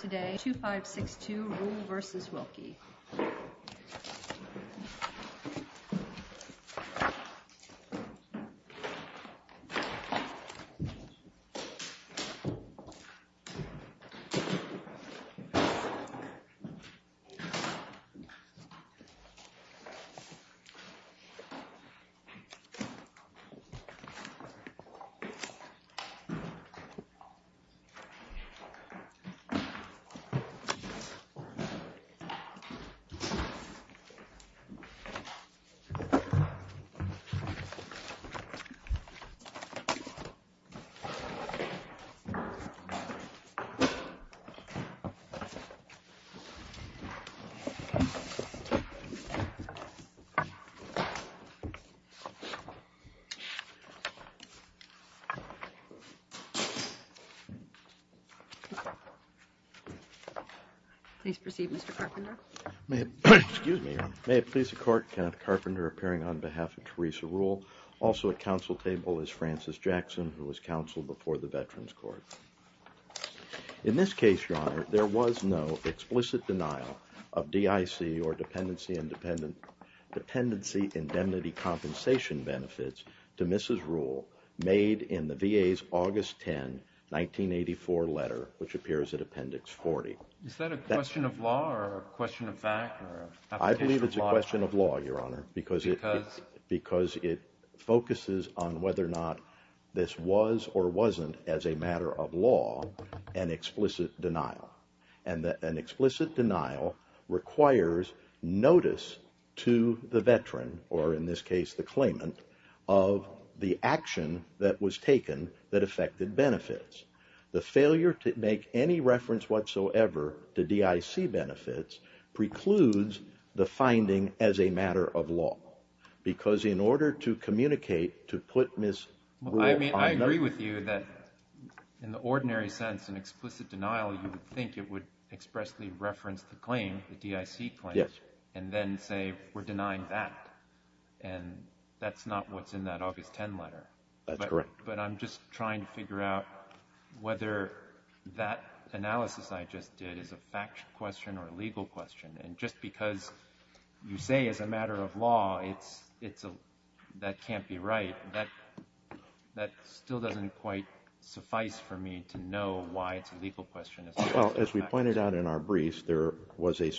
Today, 2-5-6-2 Ruel v. Wilkie 2-5-6-2 Ruel v. Wilkie Please proceed, Mr. Carpenter. May it please the Court, Kenneth Carpenter appearing on behalf of Teresa Ruel. Also at counsel table is Frances Jackson, who was counsel before the Veterans Court. In this case, Your Honor, there was no explicit denial of DIC or dependency indemnity compensation benefits to Mrs. Ruel made in the VA's August 10, 1984 letter, which appears in Appendix 40. Is that a question of law or a question of fact? I believe it's a question of law, Your Honor. Because? Because it focuses on whether or not this was or wasn't, as a matter of law, an explicit denial. And an explicit denial requires notice to the veteran, or in this case the claimant, of the action that was taken that affected benefits. The failure to make any reference whatsoever to DIC benefits precludes the finding as a matter of law. Because in order to communicate, to put Mrs. Ruel on the... I mean, I agree with you that in the ordinary sense, an explicit denial, you would think it would expressly reference the claim, the DIC claim. Yes. And then say, we're denying that. And that's not what's in that August 10 letter. That's correct. But I'm just trying to figure out whether that analysis I just did is a fact question or a legal question. And just because you say as a matter of law that can't be right, that still doesn't quite suffice for me to know why it's a legal question as opposed to a fact question. Well, as we pointed out in our briefs, there was a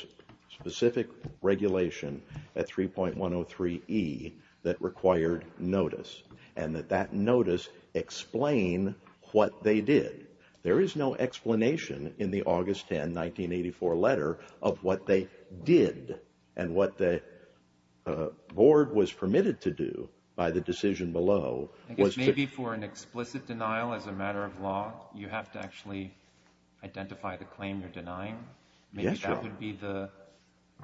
specific regulation at 3.103E that required notice. And that that notice explain what they did. There is no explanation in the August 10, 1984 letter of what they did and what the board was permitted to do by the decision below. Maybe for an explicit denial as a matter of law, you have to actually identify the claim you're denying. Maybe that would be the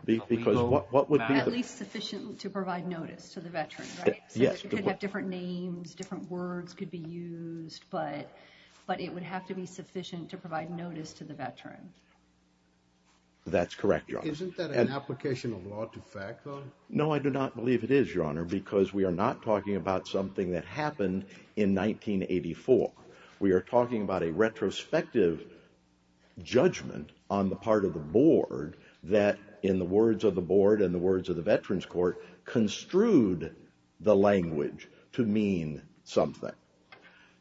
legal matter. At least sufficient to provide notice to the veteran, right? Yes. It could have different names, different words could be used, but it would have to be sufficient to provide notice to the veteran. That's correct, Your Honor. Isn't that an application of law to fact, though? No, I do not believe it is, Your Honor, because we are not talking about something that happened in 1984. We are talking about a retrospective judgment on the part of the board that, in the words of the board and the words of the Veterans Court, construed the language to mean something.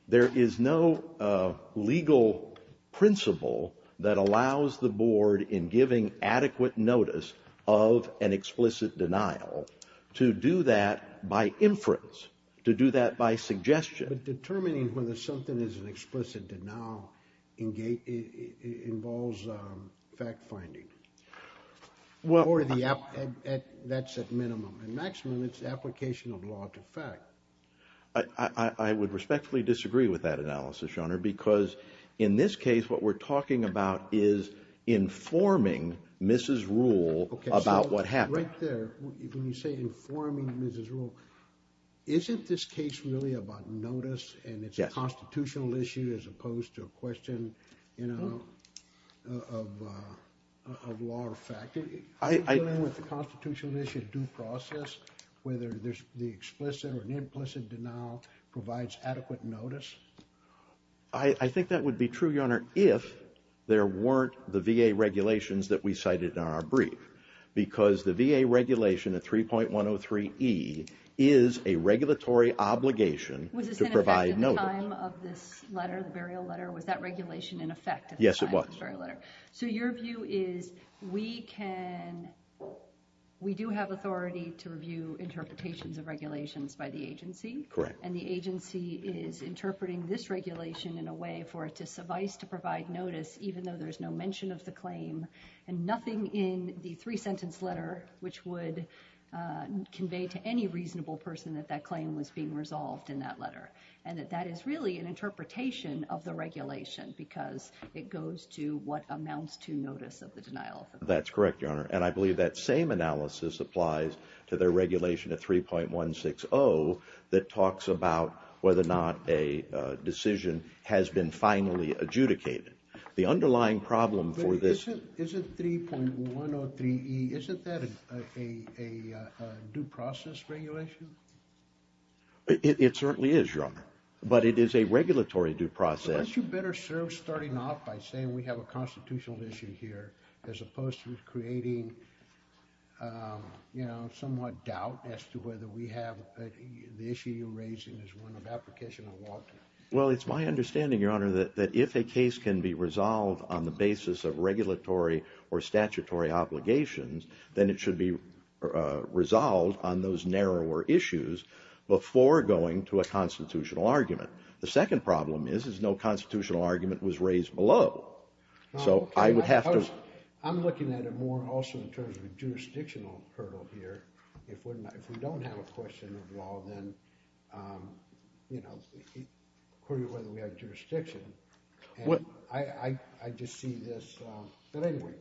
There is no legal principle that allows the board in giving adequate notice of an explicit denial to do that by inference, to do that by suggestion. But determining whether something is an explicit denial involves fact-finding. That's at minimum. At maximum, it's application of law to fact. I would respectfully disagree with that analysis, Your Honor, because in this case what we're talking about is informing Mrs. Rule about what happened. Right there, when you say informing Mrs. Rule, isn't this case really about notice? Yes. And it's a constitutional issue as opposed to a question of law or fact? Is dealing with the constitutional issue a due process, whether the explicit or implicit denial provides adequate notice? I think that would be true, Your Honor, if there weren't the VA regulations that we cited in our brief, because the VA regulation at 3.103E is a regulatory obligation to provide notice. Was this in effect at the time of this letter, the burial letter? Was that regulation in effect at the time of the burial letter? Yes, it was. So your view is we do have authority to review interpretations of regulations by the agency? Correct. And the agency is interpreting this regulation in a way for it to suffice to provide notice, even though there's no mention of the claim and nothing in the three-sentence letter, which would convey to any reasonable person that that claim was being resolved in that letter, and that that is really an interpretation of the regulation because it goes to what amounts to notice of the denial. That's correct, Your Honor, and I believe that same analysis applies to the regulation at 3.160 that talks about whether or not a decision has been finally adjudicated. The underlying problem for this— But isn't 3.103E, isn't that a due process regulation? It certainly is, Your Honor, but it is a regulatory due process. But you better start off by saying we have a constitutional issue here as opposed to creating, you know, somewhat doubt as to whether we have the issue you're raising as one of application of law. Well, it's my understanding, Your Honor, that if a case can be resolved on the basis of regulatory or statutory obligations, then it should be resolved on those narrower issues before going to a constitutional argument. The second problem is, is no constitutional argument was raised below. So I would have to— I'm looking at it more also in terms of a jurisdictional hurdle here. If we don't have a question of law, then, you know, according to whether we have jurisdiction, and I just see this—but anyway.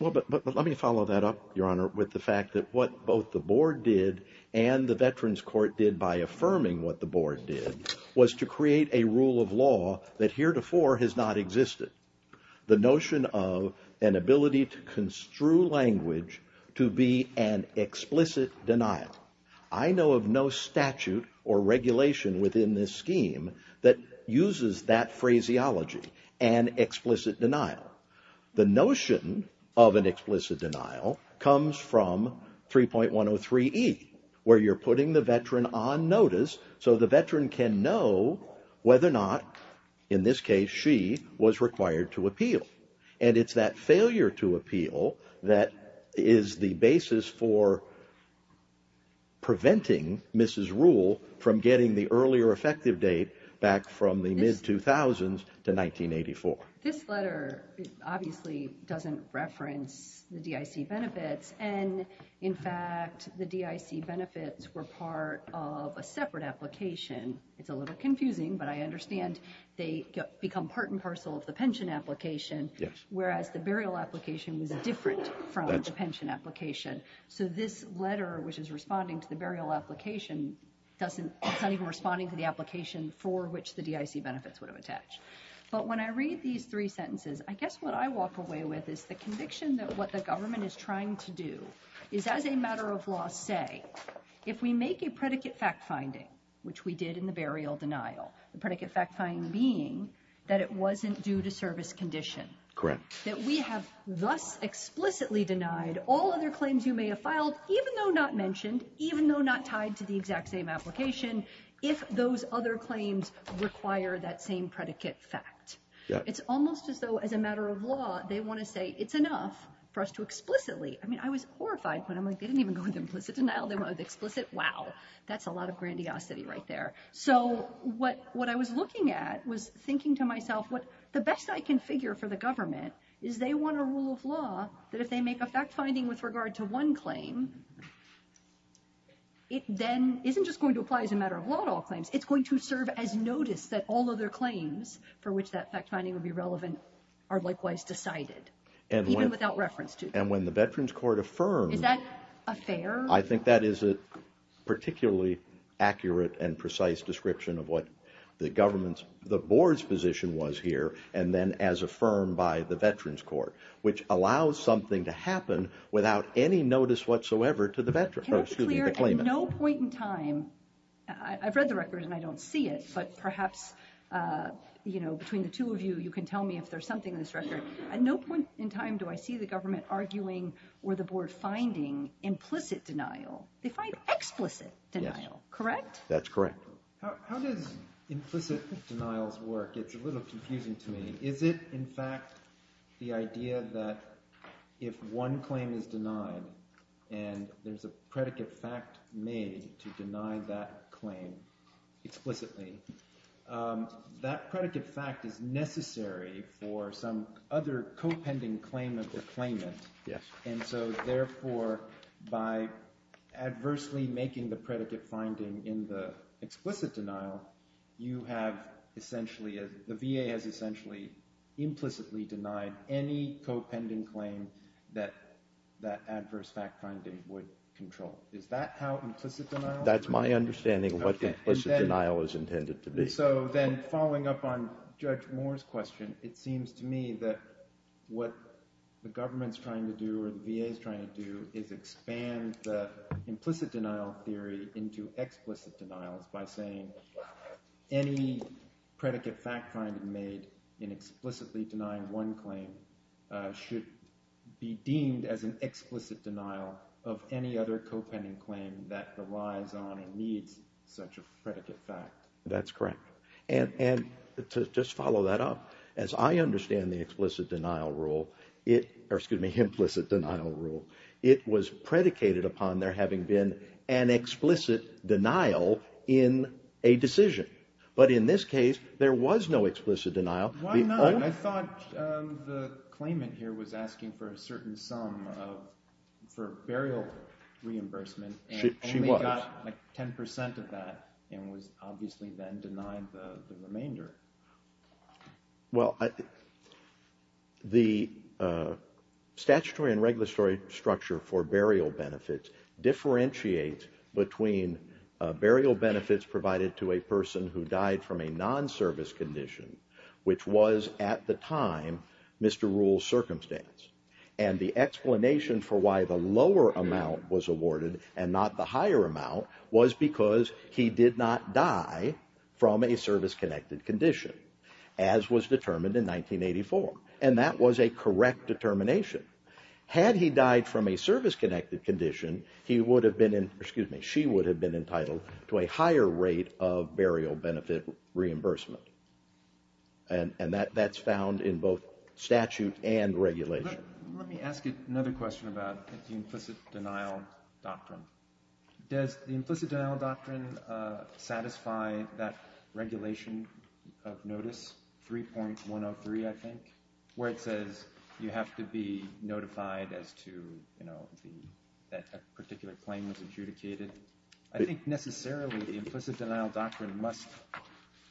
Well, but let me follow that up, Your Honor, with the fact that what both the board did and the Veterans Court did by affirming what the board did was to create a rule of law that heretofore has not existed. The notion of an ability to construe language to be an explicit denial. I know of no statute or regulation within this scheme that uses that phraseology, an explicit denial. The notion of an explicit denial comes from 3.103e, where you're putting the veteran on notice so the veteran can know whether or not, in this case, she was required to appeal. And it's that failure to appeal that is the basis for preventing Mrs. Rule from getting the earlier effective date back from the mid-2000s to 1984. This letter obviously doesn't reference the DIC benefits, and, in fact, the DIC benefits were part of a separate application. It's a little confusing, but I understand they become part and parcel of the pension application, whereas the burial application was different from the pension application. So this letter, which is responding to the burial application, it's not even responding to the application for which the DIC benefits would have attached. But when I read these three sentences, I guess what I walk away with is the conviction that what the government is trying to do is, as a matter of law, say, if we make a predicate fact-finding, which we did in the burial denial, the predicate fact-finding being that it wasn't due to service condition, that we have thus explicitly denied all other claims you may have filed, even though not mentioned, even though not tied to the exact same application, if those other claims require that same predicate fact. It's almost as though, as a matter of law, they want to say it's enough for us to explicitly. I mean, I was horrified when I'm like, they didn't even go with implicit denial. They went with explicit, wow, that's a lot of grandiosity right there. So what I was looking at was thinking to myself, the best I can figure for the government is they want a rule of law that if they make a fact-finding with regard to one claim, it then isn't just going to apply as a matter of law to all claims. It's going to serve as notice that all other claims for which that fact-finding would be relevant are likewise decided, even without reference to them. And when the Veterans Court affirmed... Is that a fair... I think that is a particularly accurate and precise description of what the government's, the board's position was here, and then as affirmed by the Veterans Court, which allows something to happen without any notice whatsoever to the claimant. Can I be clear, at no point in time, I've read the record and I don't see it, but perhaps between the two of you, you can tell me if there's something in this record. At no point in time do I see the government arguing or the board finding implicit denial. They find explicit denial, correct? That's correct. How does implicit denial work? It's a little confusing to me. Is it, in fact, the idea that if one claim is denied and there's a predicate fact made to deny that claim explicitly, that predicate fact is necessary for some other co-pending claim of the claimant, and so therefore by adversely making the predicate finding in the explicit denial, you have essentially, the VA has essentially implicitly denied any co-pending claim that that adverse fact finding would control. Is that how implicit denial works? That's my understanding of what implicit denial is intended to be. So then following up on Judge Moore's question, it seems to me that what the government's trying to do or the VA's trying to do is expand the implicit denial theory into explicit denials by saying any predicate fact finding made in explicitly denying one claim should be deemed as an explicit denial of any other co-pending claim that relies on or needs such a predicate fact. That's correct. And to just follow that up, as I understand the explicit denial rule, or excuse me, implicit denial rule, it was predicated upon there having been an explicit denial in a decision. But in this case, there was no explicit denial. Why not? I thought the claimant here was asking for a certain sum for burial reimbursement. She was. And only got like 10% of that and was obviously then denied the remainder. Well, the statutory and regulatory structure for burial benefits differentiates between burial benefits provided to a person who died from a non-service condition, which was at the time Mr. Rule's circumstance. And the explanation for why the lower amount was awarded and not the higher amount was because he did not die from a service-connected condition, as was determined in 1984. And that was a correct determination. Had he died from a service-connected condition, he would have been, excuse me, she would have been entitled to a higher rate of burial benefit reimbursement. And that's found in both statute and regulation. Let me ask you another question about the implicit denial doctrine. Does the implicit denial doctrine satisfy that regulation of notice 3.103, I think, where it says you have to be notified as to, you know, that a particular claim was adjudicated? I think necessarily the implicit denial doctrine must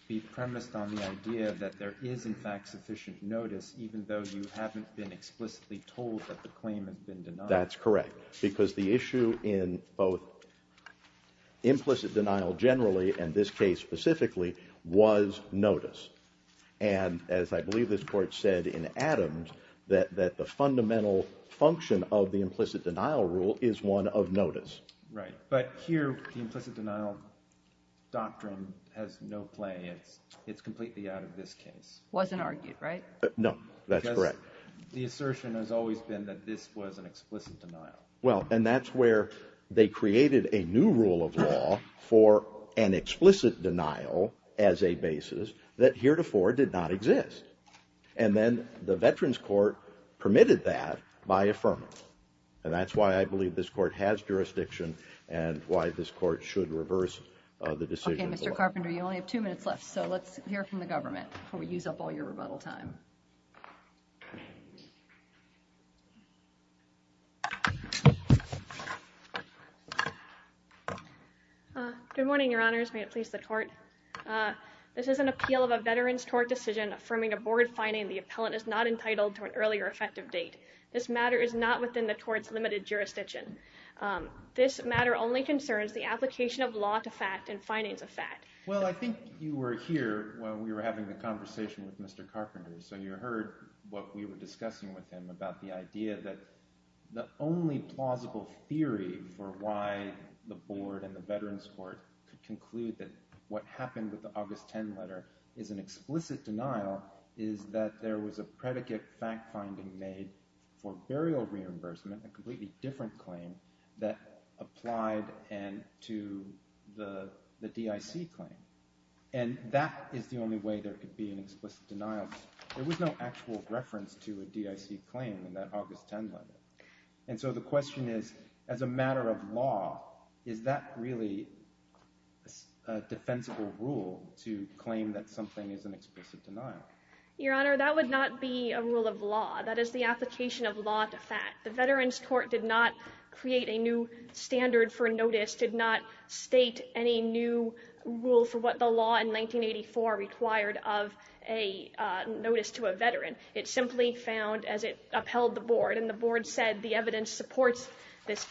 be premised on the idea that there is, in fact, sufficient notice even though you haven't been explicitly told that the claim has been denied. That's correct, because the issue in both implicit denial generally, and this case specifically, was notice. And as I believe this Court said in Adams, that the fundamental function of the implicit denial rule is one of notice. Right, but here the implicit denial doctrine has no play. It's completely out of this case. Wasn't argued, right? No, that's correct. The assertion has always been that this was an explicit denial. Well, and that's where they created a new rule of law for an explicit denial as a basis that heretofore did not exist. And then the Veterans Court permitted that by affirming it. And that's why I believe this Court has jurisdiction and why this Court should reverse the decision. Okay, Mr. Carpenter, you only have two minutes left, so let's hear from the government before we use up all your rebuttal time. Good morning, Your Honors. May it please the Court. This is an appeal of a Veterans Court decision affirming a board finding the appellant is not entitled to an early or effective date. This matter is not within the Court's limited jurisdiction. This matter only concerns the application of law to fact and findings of fact. Well, I think you were here when we were having the conversation with Mr. Carpenter, so you heard what we were discussing with him about the idea that the only plausible theory for why the Board and the Veterans Court could conclude that what happened with the August 10 letter is an explicit denial is that there was a predicate fact finding made for burial reimbursement, a completely different claim, that applied to the DIC claim. And that is the only way there could be an explicit denial. There was no actual reference to a DIC claim in that August 10 letter. And so the question is, as a matter of law, is that really a defensible rule to claim that something is an explicit denial? Your Honor, that would not be a rule of law. That is the application of law to fact. The Veterans Court did not create a new standard for notice, did not state any new rule for what the law in 1984 required of a notice to a veteran. It simply found, as it upheld the Board, and the Board said the evidence supports this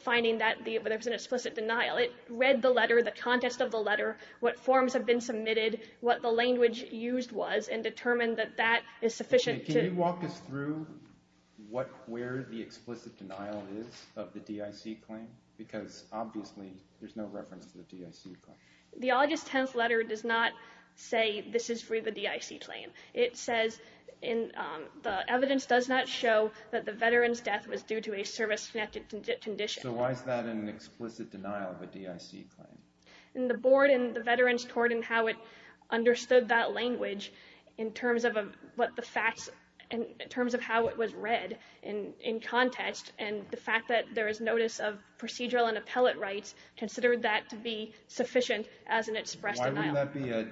finding that there was an explicit denial. It read the letter, the context of the letter, what forms had been submitted, what the language used was, and determined that that is sufficient to— Do you know where the explicit denial is of the DIC claim? Because obviously there's no reference to the DIC claim. The August 10 letter does not say this is for the DIC claim. It says the evidence does not show that the veteran's death was due to a service-connected condition. So why is that an explicit denial of a DIC claim? The Board and the Veterans Court and how it understood that language in terms of what the facts, in terms of how it was read in context, and the fact that there is notice of procedural and appellate rights, considered that to be sufficient as an expressed denial. Why would that be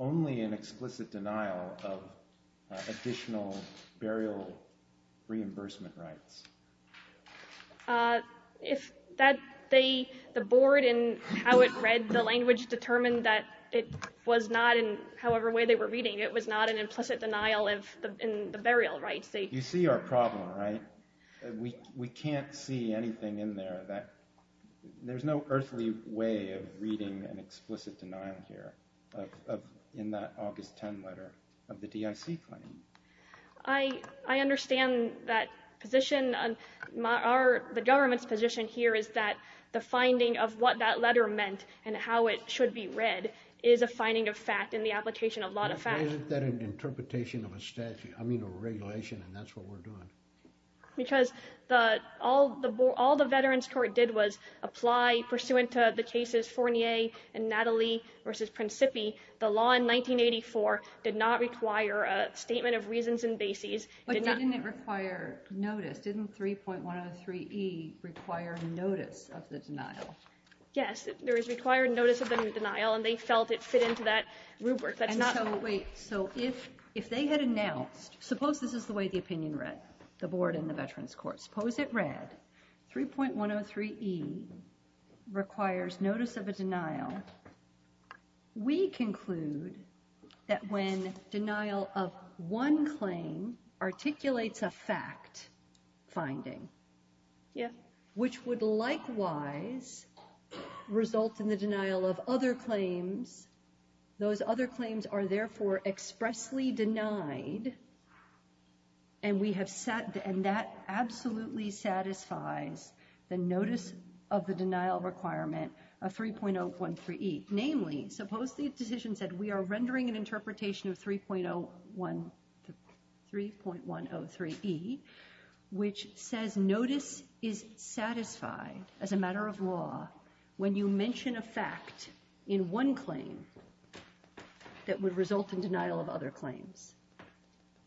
only an explicit denial of additional burial reimbursement rights? The Board and how it read the language determined that it was not in however way they were reading. It was not an implicit denial in the burial rights. You see our problem, right? We can't see anything in there. There's no earthly way of reading an explicit denial here in that August 10 letter of the DIC claim. I understand that position. The government's position here is that the finding of what that letter meant and how it should be read is a finding of fact in the application of law to fact. Why isn't that an interpretation of a statute, I mean a regulation, and that's what we're doing? Because all the Veterans Court did was apply pursuant to the cases Fournier and Natalie versus Principi. The law in 1984 did not require a statement of reasons and bases. But didn't it require notice? Didn't 3.103e require notice of the denial? Yes, there is required notice of the denial, and they felt it fit into that rubric. Wait, so if they had announced, suppose this is the way the opinion read, the Board and the Veterans Court, suppose it read 3.103e requires notice of a denial. We conclude that when denial of one claim articulates a fact finding, which would likewise result in the denial of other claims, those other claims are therefore expressly denied, and that absolutely satisfies the notice of the denial requirement of 3.013e. Namely, suppose the decision said we are rendering an interpretation of 3.103e, which says notice is satisfied as a matter of law when you mention a fact in one claim that would result in denial of other claims.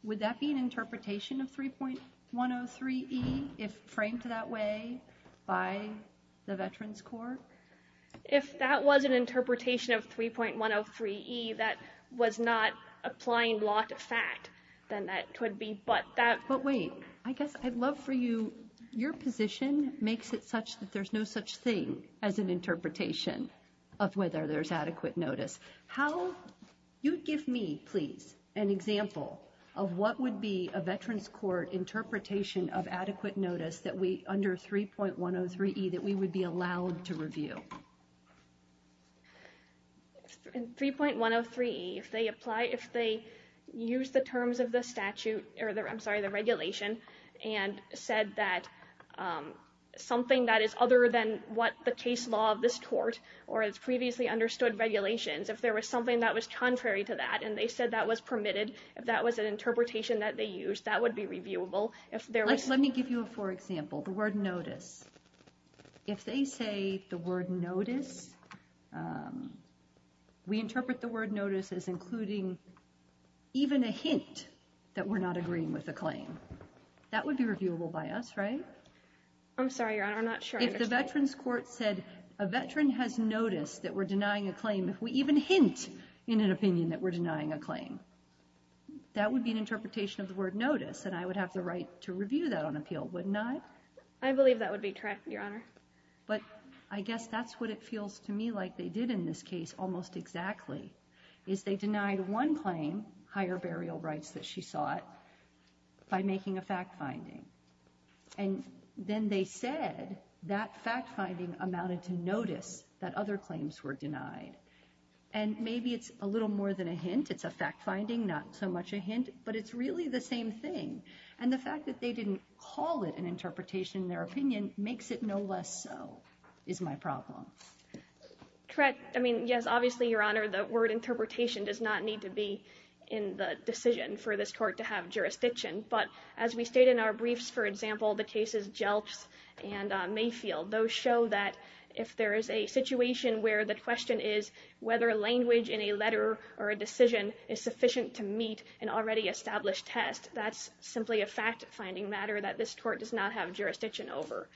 Would that be an interpretation of 3.103e if framed that way by the Veterans Court? If that was an interpretation of 3.103e that was not applying law to fact, then that could be. But wait, I guess I'd love for you, your position makes it such that there's no such thing as an interpretation of whether there's adequate notice. You'd give me, please, an example of what would be a Veterans Court interpretation of adequate notice under 3.103e that we would be allowed to review. In 3.103e, if they apply, if they use the terms of the statute, I'm sorry, the regulation, and said that something that is other than what the case law of this court or its previously understood regulations, if there was something that was contrary to that and they said that was permitted, if that was an interpretation that they used, that would be reviewable. Let me give you a poor example, the word notice. If they say the word notice, we interpret the word notice as including even a hint that we're not agreeing with the claim. That would be reviewable by us, right? I'm sorry, Your Honor, I'm not sure I understand. If the Veterans Court said a veteran has noticed that we're denying a claim, if we even hint in an opinion that we're denying a claim, that would be an interpretation of the word notice, and I would have the right to review that on appeal, wouldn't I? I believe that would be correct, Your Honor. But I guess that's what it feels to me like they did in this case almost exactly, is they denied one claim, higher burial rights that she sought, by making a fact finding. And then they said that fact finding amounted to notice that other claims were denied. And maybe it's a little more than a hint, it's a fact finding, not so much a hint, but it's really the same thing. And the fact that they didn't call it an interpretation in their opinion makes it no less so, is my problem. Correct. I mean, yes, obviously, Your Honor, the word interpretation does not need to be in the decision for this court to have jurisdiction. But as we state in our briefs, for example, the cases Jelps and Mayfield, those show that if there is a situation where the question is whether language in a letter or a decision is sufficient to meet an already established test, that's simply a fact finding matter that this court does not have jurisdiction over.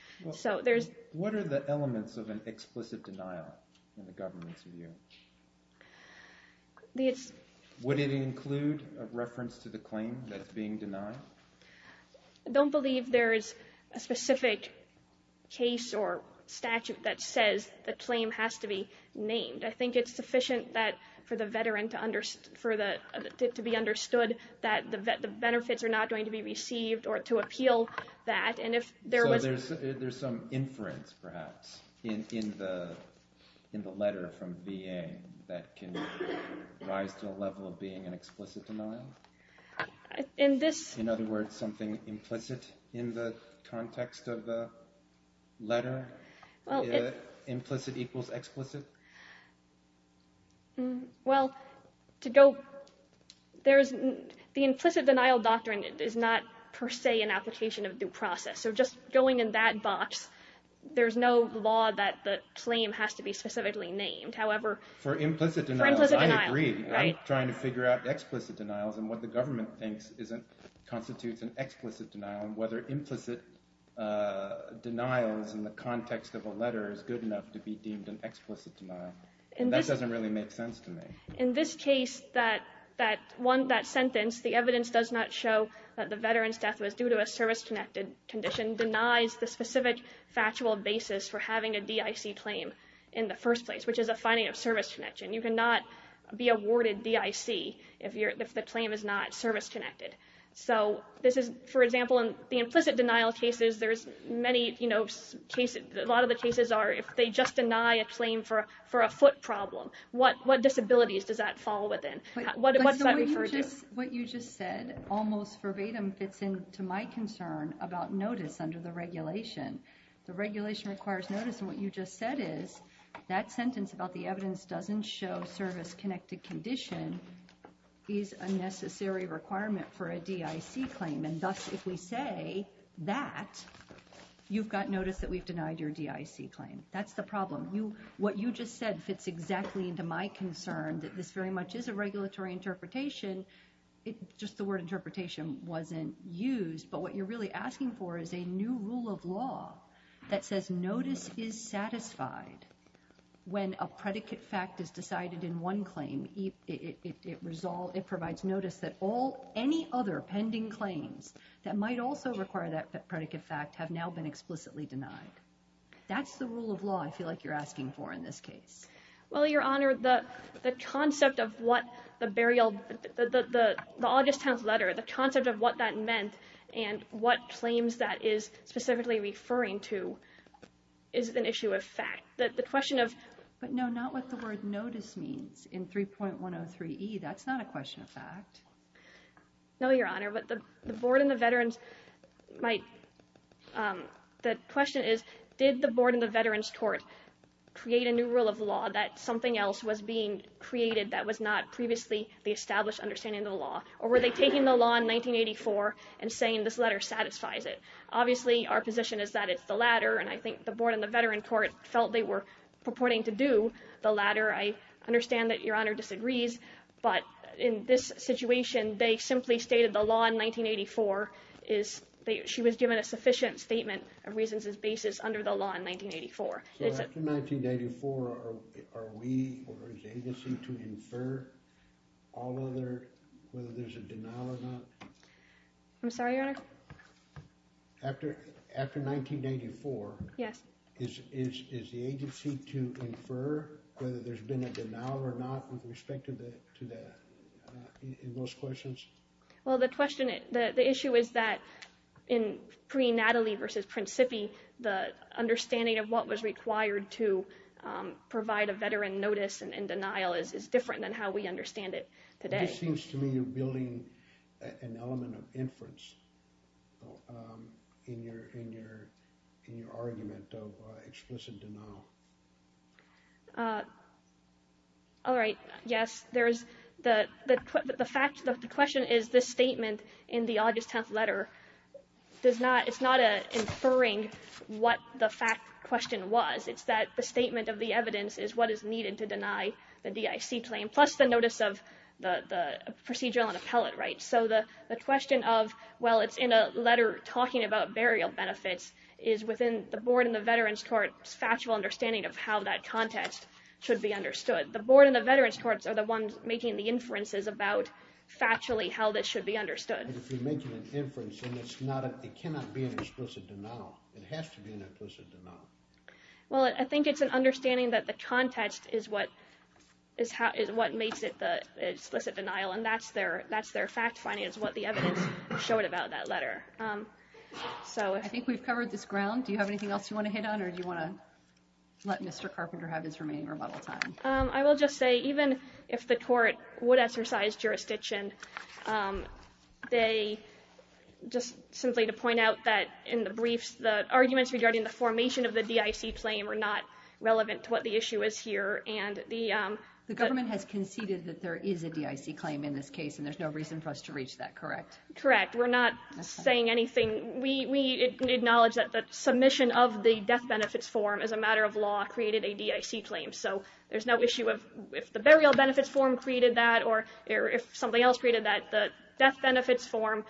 What are the elements of an explicit denial in the government's view? Would it include a reference to the claim that's being denied? I don't believe there is a specific case or statute that says the claim has to be named. I think it's sufficient for the veteran to be understood that the benefits are not going to be received or to appeal that. So there's some inference, perhaps, in the letter from VA that can rise to a level of being an explicit denial? In other words, something implicit in the context of the letter? Implicit equals explicit? Well, the implicit denial doctrine is not per se an application of due process. So just going in that box, there's no law that the claim has to be specifically named. However, for implicit denial, I agree. I'm trying to figure out explicit denials and what the government thinks constitutes an explicit denial and whether implicit denials in the context of a letter is good enough to be deemed an explicit denial. That doesn't really make sense to me. In this case, that sentence, the evidence does not show that the veteran's death was due to a service-connected condition denies the specific factual basis for having a DIC claim in the first place, which is a finding of service connection. You cannot be awarded DIC if the claim is not service-connected. For example, in the implicit denial cases, a lot of the cases are if they just deny a claim for a foot problem. What disabilities does that fall within? What does that refer to? What you just said almost verbatim fits into my concern about notice under the regulation. The regulation requires notice, and what you just said is that sentence about the evidence doesn't show service-connected condition is a necessary requirement for a DIC claim, and thus if we say that, you've got notice that we've denied your DIC claim. That's the problem. What you just said fits exactly into my concern that this very much is a regulatory interpretation. Just the word interpretation wasn't used, but what you're really asking for is a new rule of law that says notice is satisfied when a predicate fact is decided in one claim. It provides notice that any other pending claims that might also require that predicate fact have now been explicitly denied. That's the rule of law I feel like you're asking for in this case. Well, Your Honor, the concept of what the burial, the August 10th letter, the concept of what that meant and what claims that is specifically referring to is an issue of fact. The question of... But no, not what the word notice means in 3.103e. That's not a question of fact. No, Your Honor, but the board and the veterans might... The question is, did the board and the veterans court create a new rule of law that something else was being created that was not previously the established understanding of the law, or were they taking the law in 1984 and saying this letter satisfies it? Obviously, our position is that it's the latter, and I think the board and the veteran court felt they were purporting to do the latter. I understand that Your Honor disagrees, but in this situation, they simply stated the law in 1984. She was given a sufficient statement of reasons as basis under the law in 1984. So after 1984, are we or is the agency to infer all other, whether there's a denial or not? I'm sorry, Your Honor? After 1984, is the agency to infer whether there's been a denial or not with respect to those questions? Well, the issue is that in pre-Natalie v. Prince Sippy, the understanding of what was required to provide a veteran notice and denial is different than how we understand it today. This seems to me you're building an element of inference in your argument of explicit denial. All right. Yes, the question is this statement in the August 10th letter. It's not inferring what the fact question was. It's that the statement of the evidence is what is needed to deny the DIC claim, plus the notice of the procedural and appellate rights. So the question of, well, it's in a letter talking about burial benefits, is within the board and the veterans court's factual understanding of how that context should be understood. The board and the veterans courts are the ones making the inferences about factually how this should be understood. But if you're making an inference, then it cannot be an explicit denial. It has to be an explicit denial. Well, I think it's an understanding that the context is what makes it the explicit denial, and that's their fact finding is what the evidence showed about that letter. I think we've covered this ground. Do you have anything else you want to hit on, or do you want to let Mr. Carpenter have his remaining rebuttal time? I will just say, even if the court would exercise jurisdiction, just simply to point out that in the briefs, the arguments regarding the formation of the DIC claim are not relevant to what the issue is here. The government has conceded that there is a DIC claim in this case, and there's no reason for us to reach that, correct? Correct. We're not saying anything. We acknowledge that the submission of the death benefits form, as a matter of law, created a DIC claim. So there's no issue if the burial benefits form created that or if something else created that. The death benefits form,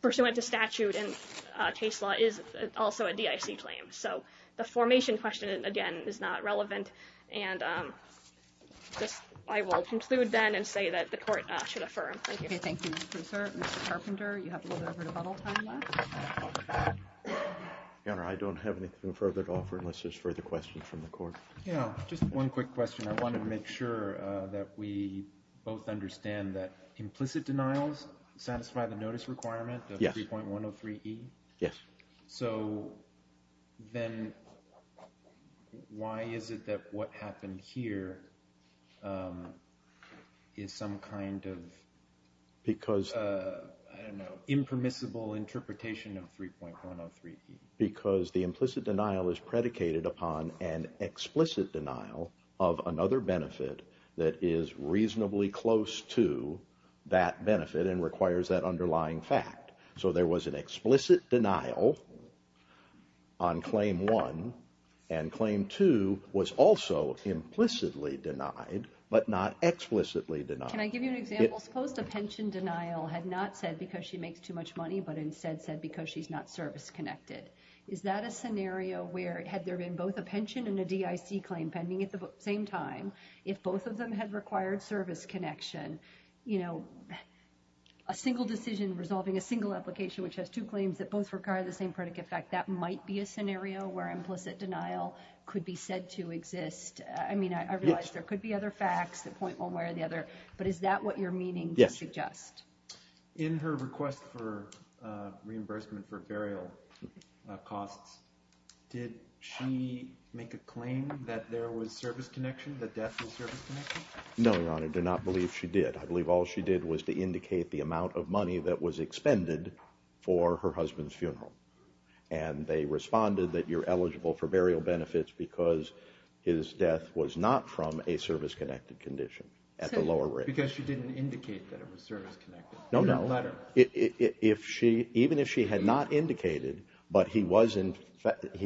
pursuant to statute and case law, is also a DIC claim. So the formation question, again, is not relevant, and I will conclude then and say that the court should affirm. Thank you. Okay, thank you, Mr. Kruiser. Mr. Carpenter, you have a little bit of rebuttal time left. Your Honor, I don't have anything further to offer unless there's further questions from the court. Yeah, just one quick question. I want to make sure that we both understand that implicit denials satisfy the notice requirement of 3.103E? Yes. So then why is it that what happened here is some kind of, I don't know, impermissible interpretation of 3.103E? Because the implicit denial is predicated upon an explicit denial of another benefit that is reasonably close to that benefit and requires that underlying fact. So there was an explicit denial on Claim 1, and Claim 2 was also implicitly denied but not explicitly denied. Can I give you an example? Suppose a pension denial had not said because she makes too much money but instead said because she's not service-connected. Is that a scenario where, had there been both a pension and a DIC claim pending at the same time, if both of them had required service connection, a single decision resolving a single application which has two claims that both require the same predicate fact, that might be a scenario where implicit denial could be said to exist? I mean, I realize there could be other facts that point one way or the other, but is that what you're meaning to suggest? Yes. In her request for reimbursement for burial costs, did she make a claim that there was service connection, that death was service connection? No, Your Honor, I do not believe she did. I believe all she did was to indicate the amount of money that was expended for her husband's funeral. And they responded that you're eligible for burial benefits because his death was not from a service-connected condition at the lower rate. Because she didn't indicate that it was service-connected. No, no. Even if she had not indicated, but he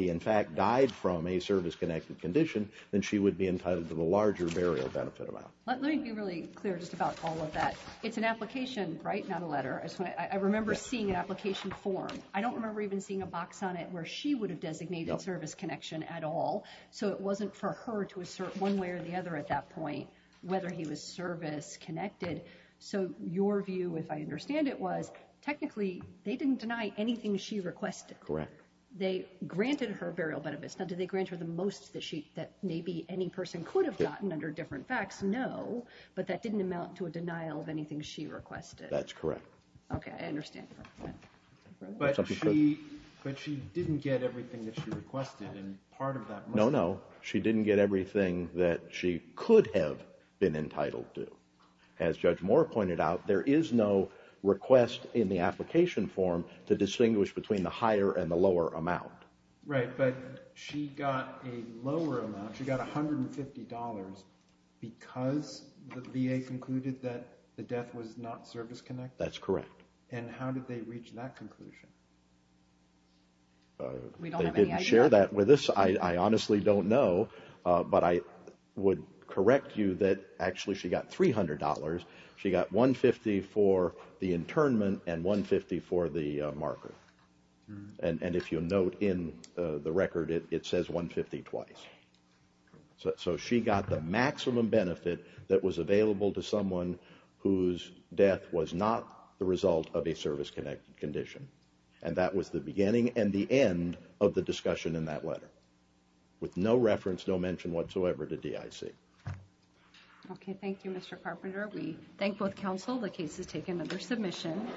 in fact died from a service-connected condition, then she would be entitled to the larger burial benefit amount. Let me be really clear just about all of that. It's an application, right, not a letter. I remember seeing an application form. I don't remember even seeing a box on it where she would have designated service connection at all. So it wasn't for her to assert one way or the other at that point whether he was service-connected. So your view, if I understand it, was technically they didn't deny anything she requested. Correct. They granted her burial benefits. Now, did they grant her the most that maybe any person could have gotten under different facts? No. But that didn't amount to a denial of anything she requested. That's correct. Okay. I understand. But she didn't get everything that she requested. No, no. She didn't get everything that she could have been entitled to. As Judge Moore pointed out, there is no request in the application form to distinguish between the higher and the lower amount. Right, but she got a lower amount. She got $150 because the VA concluded that the death was not service-connected? That's correct. And how did they reach that conclusion? We don't have any idea. They didn't share that with us. I honestly don't know. But I would correct you that actually she got $300. She got $150 for the internment and $150 for the marker. And if you'll note in the record, it says $150 twice. So she got the maximum benefit that was available to someone whose death was not the result of a service-connected condition. And that was the beginning and the end of the discussion in that letter with no reference, no mention whatsoever to DIC. Okay. Thank you, Mr. Carpenter. We thank both counsel. The case is taken under submission.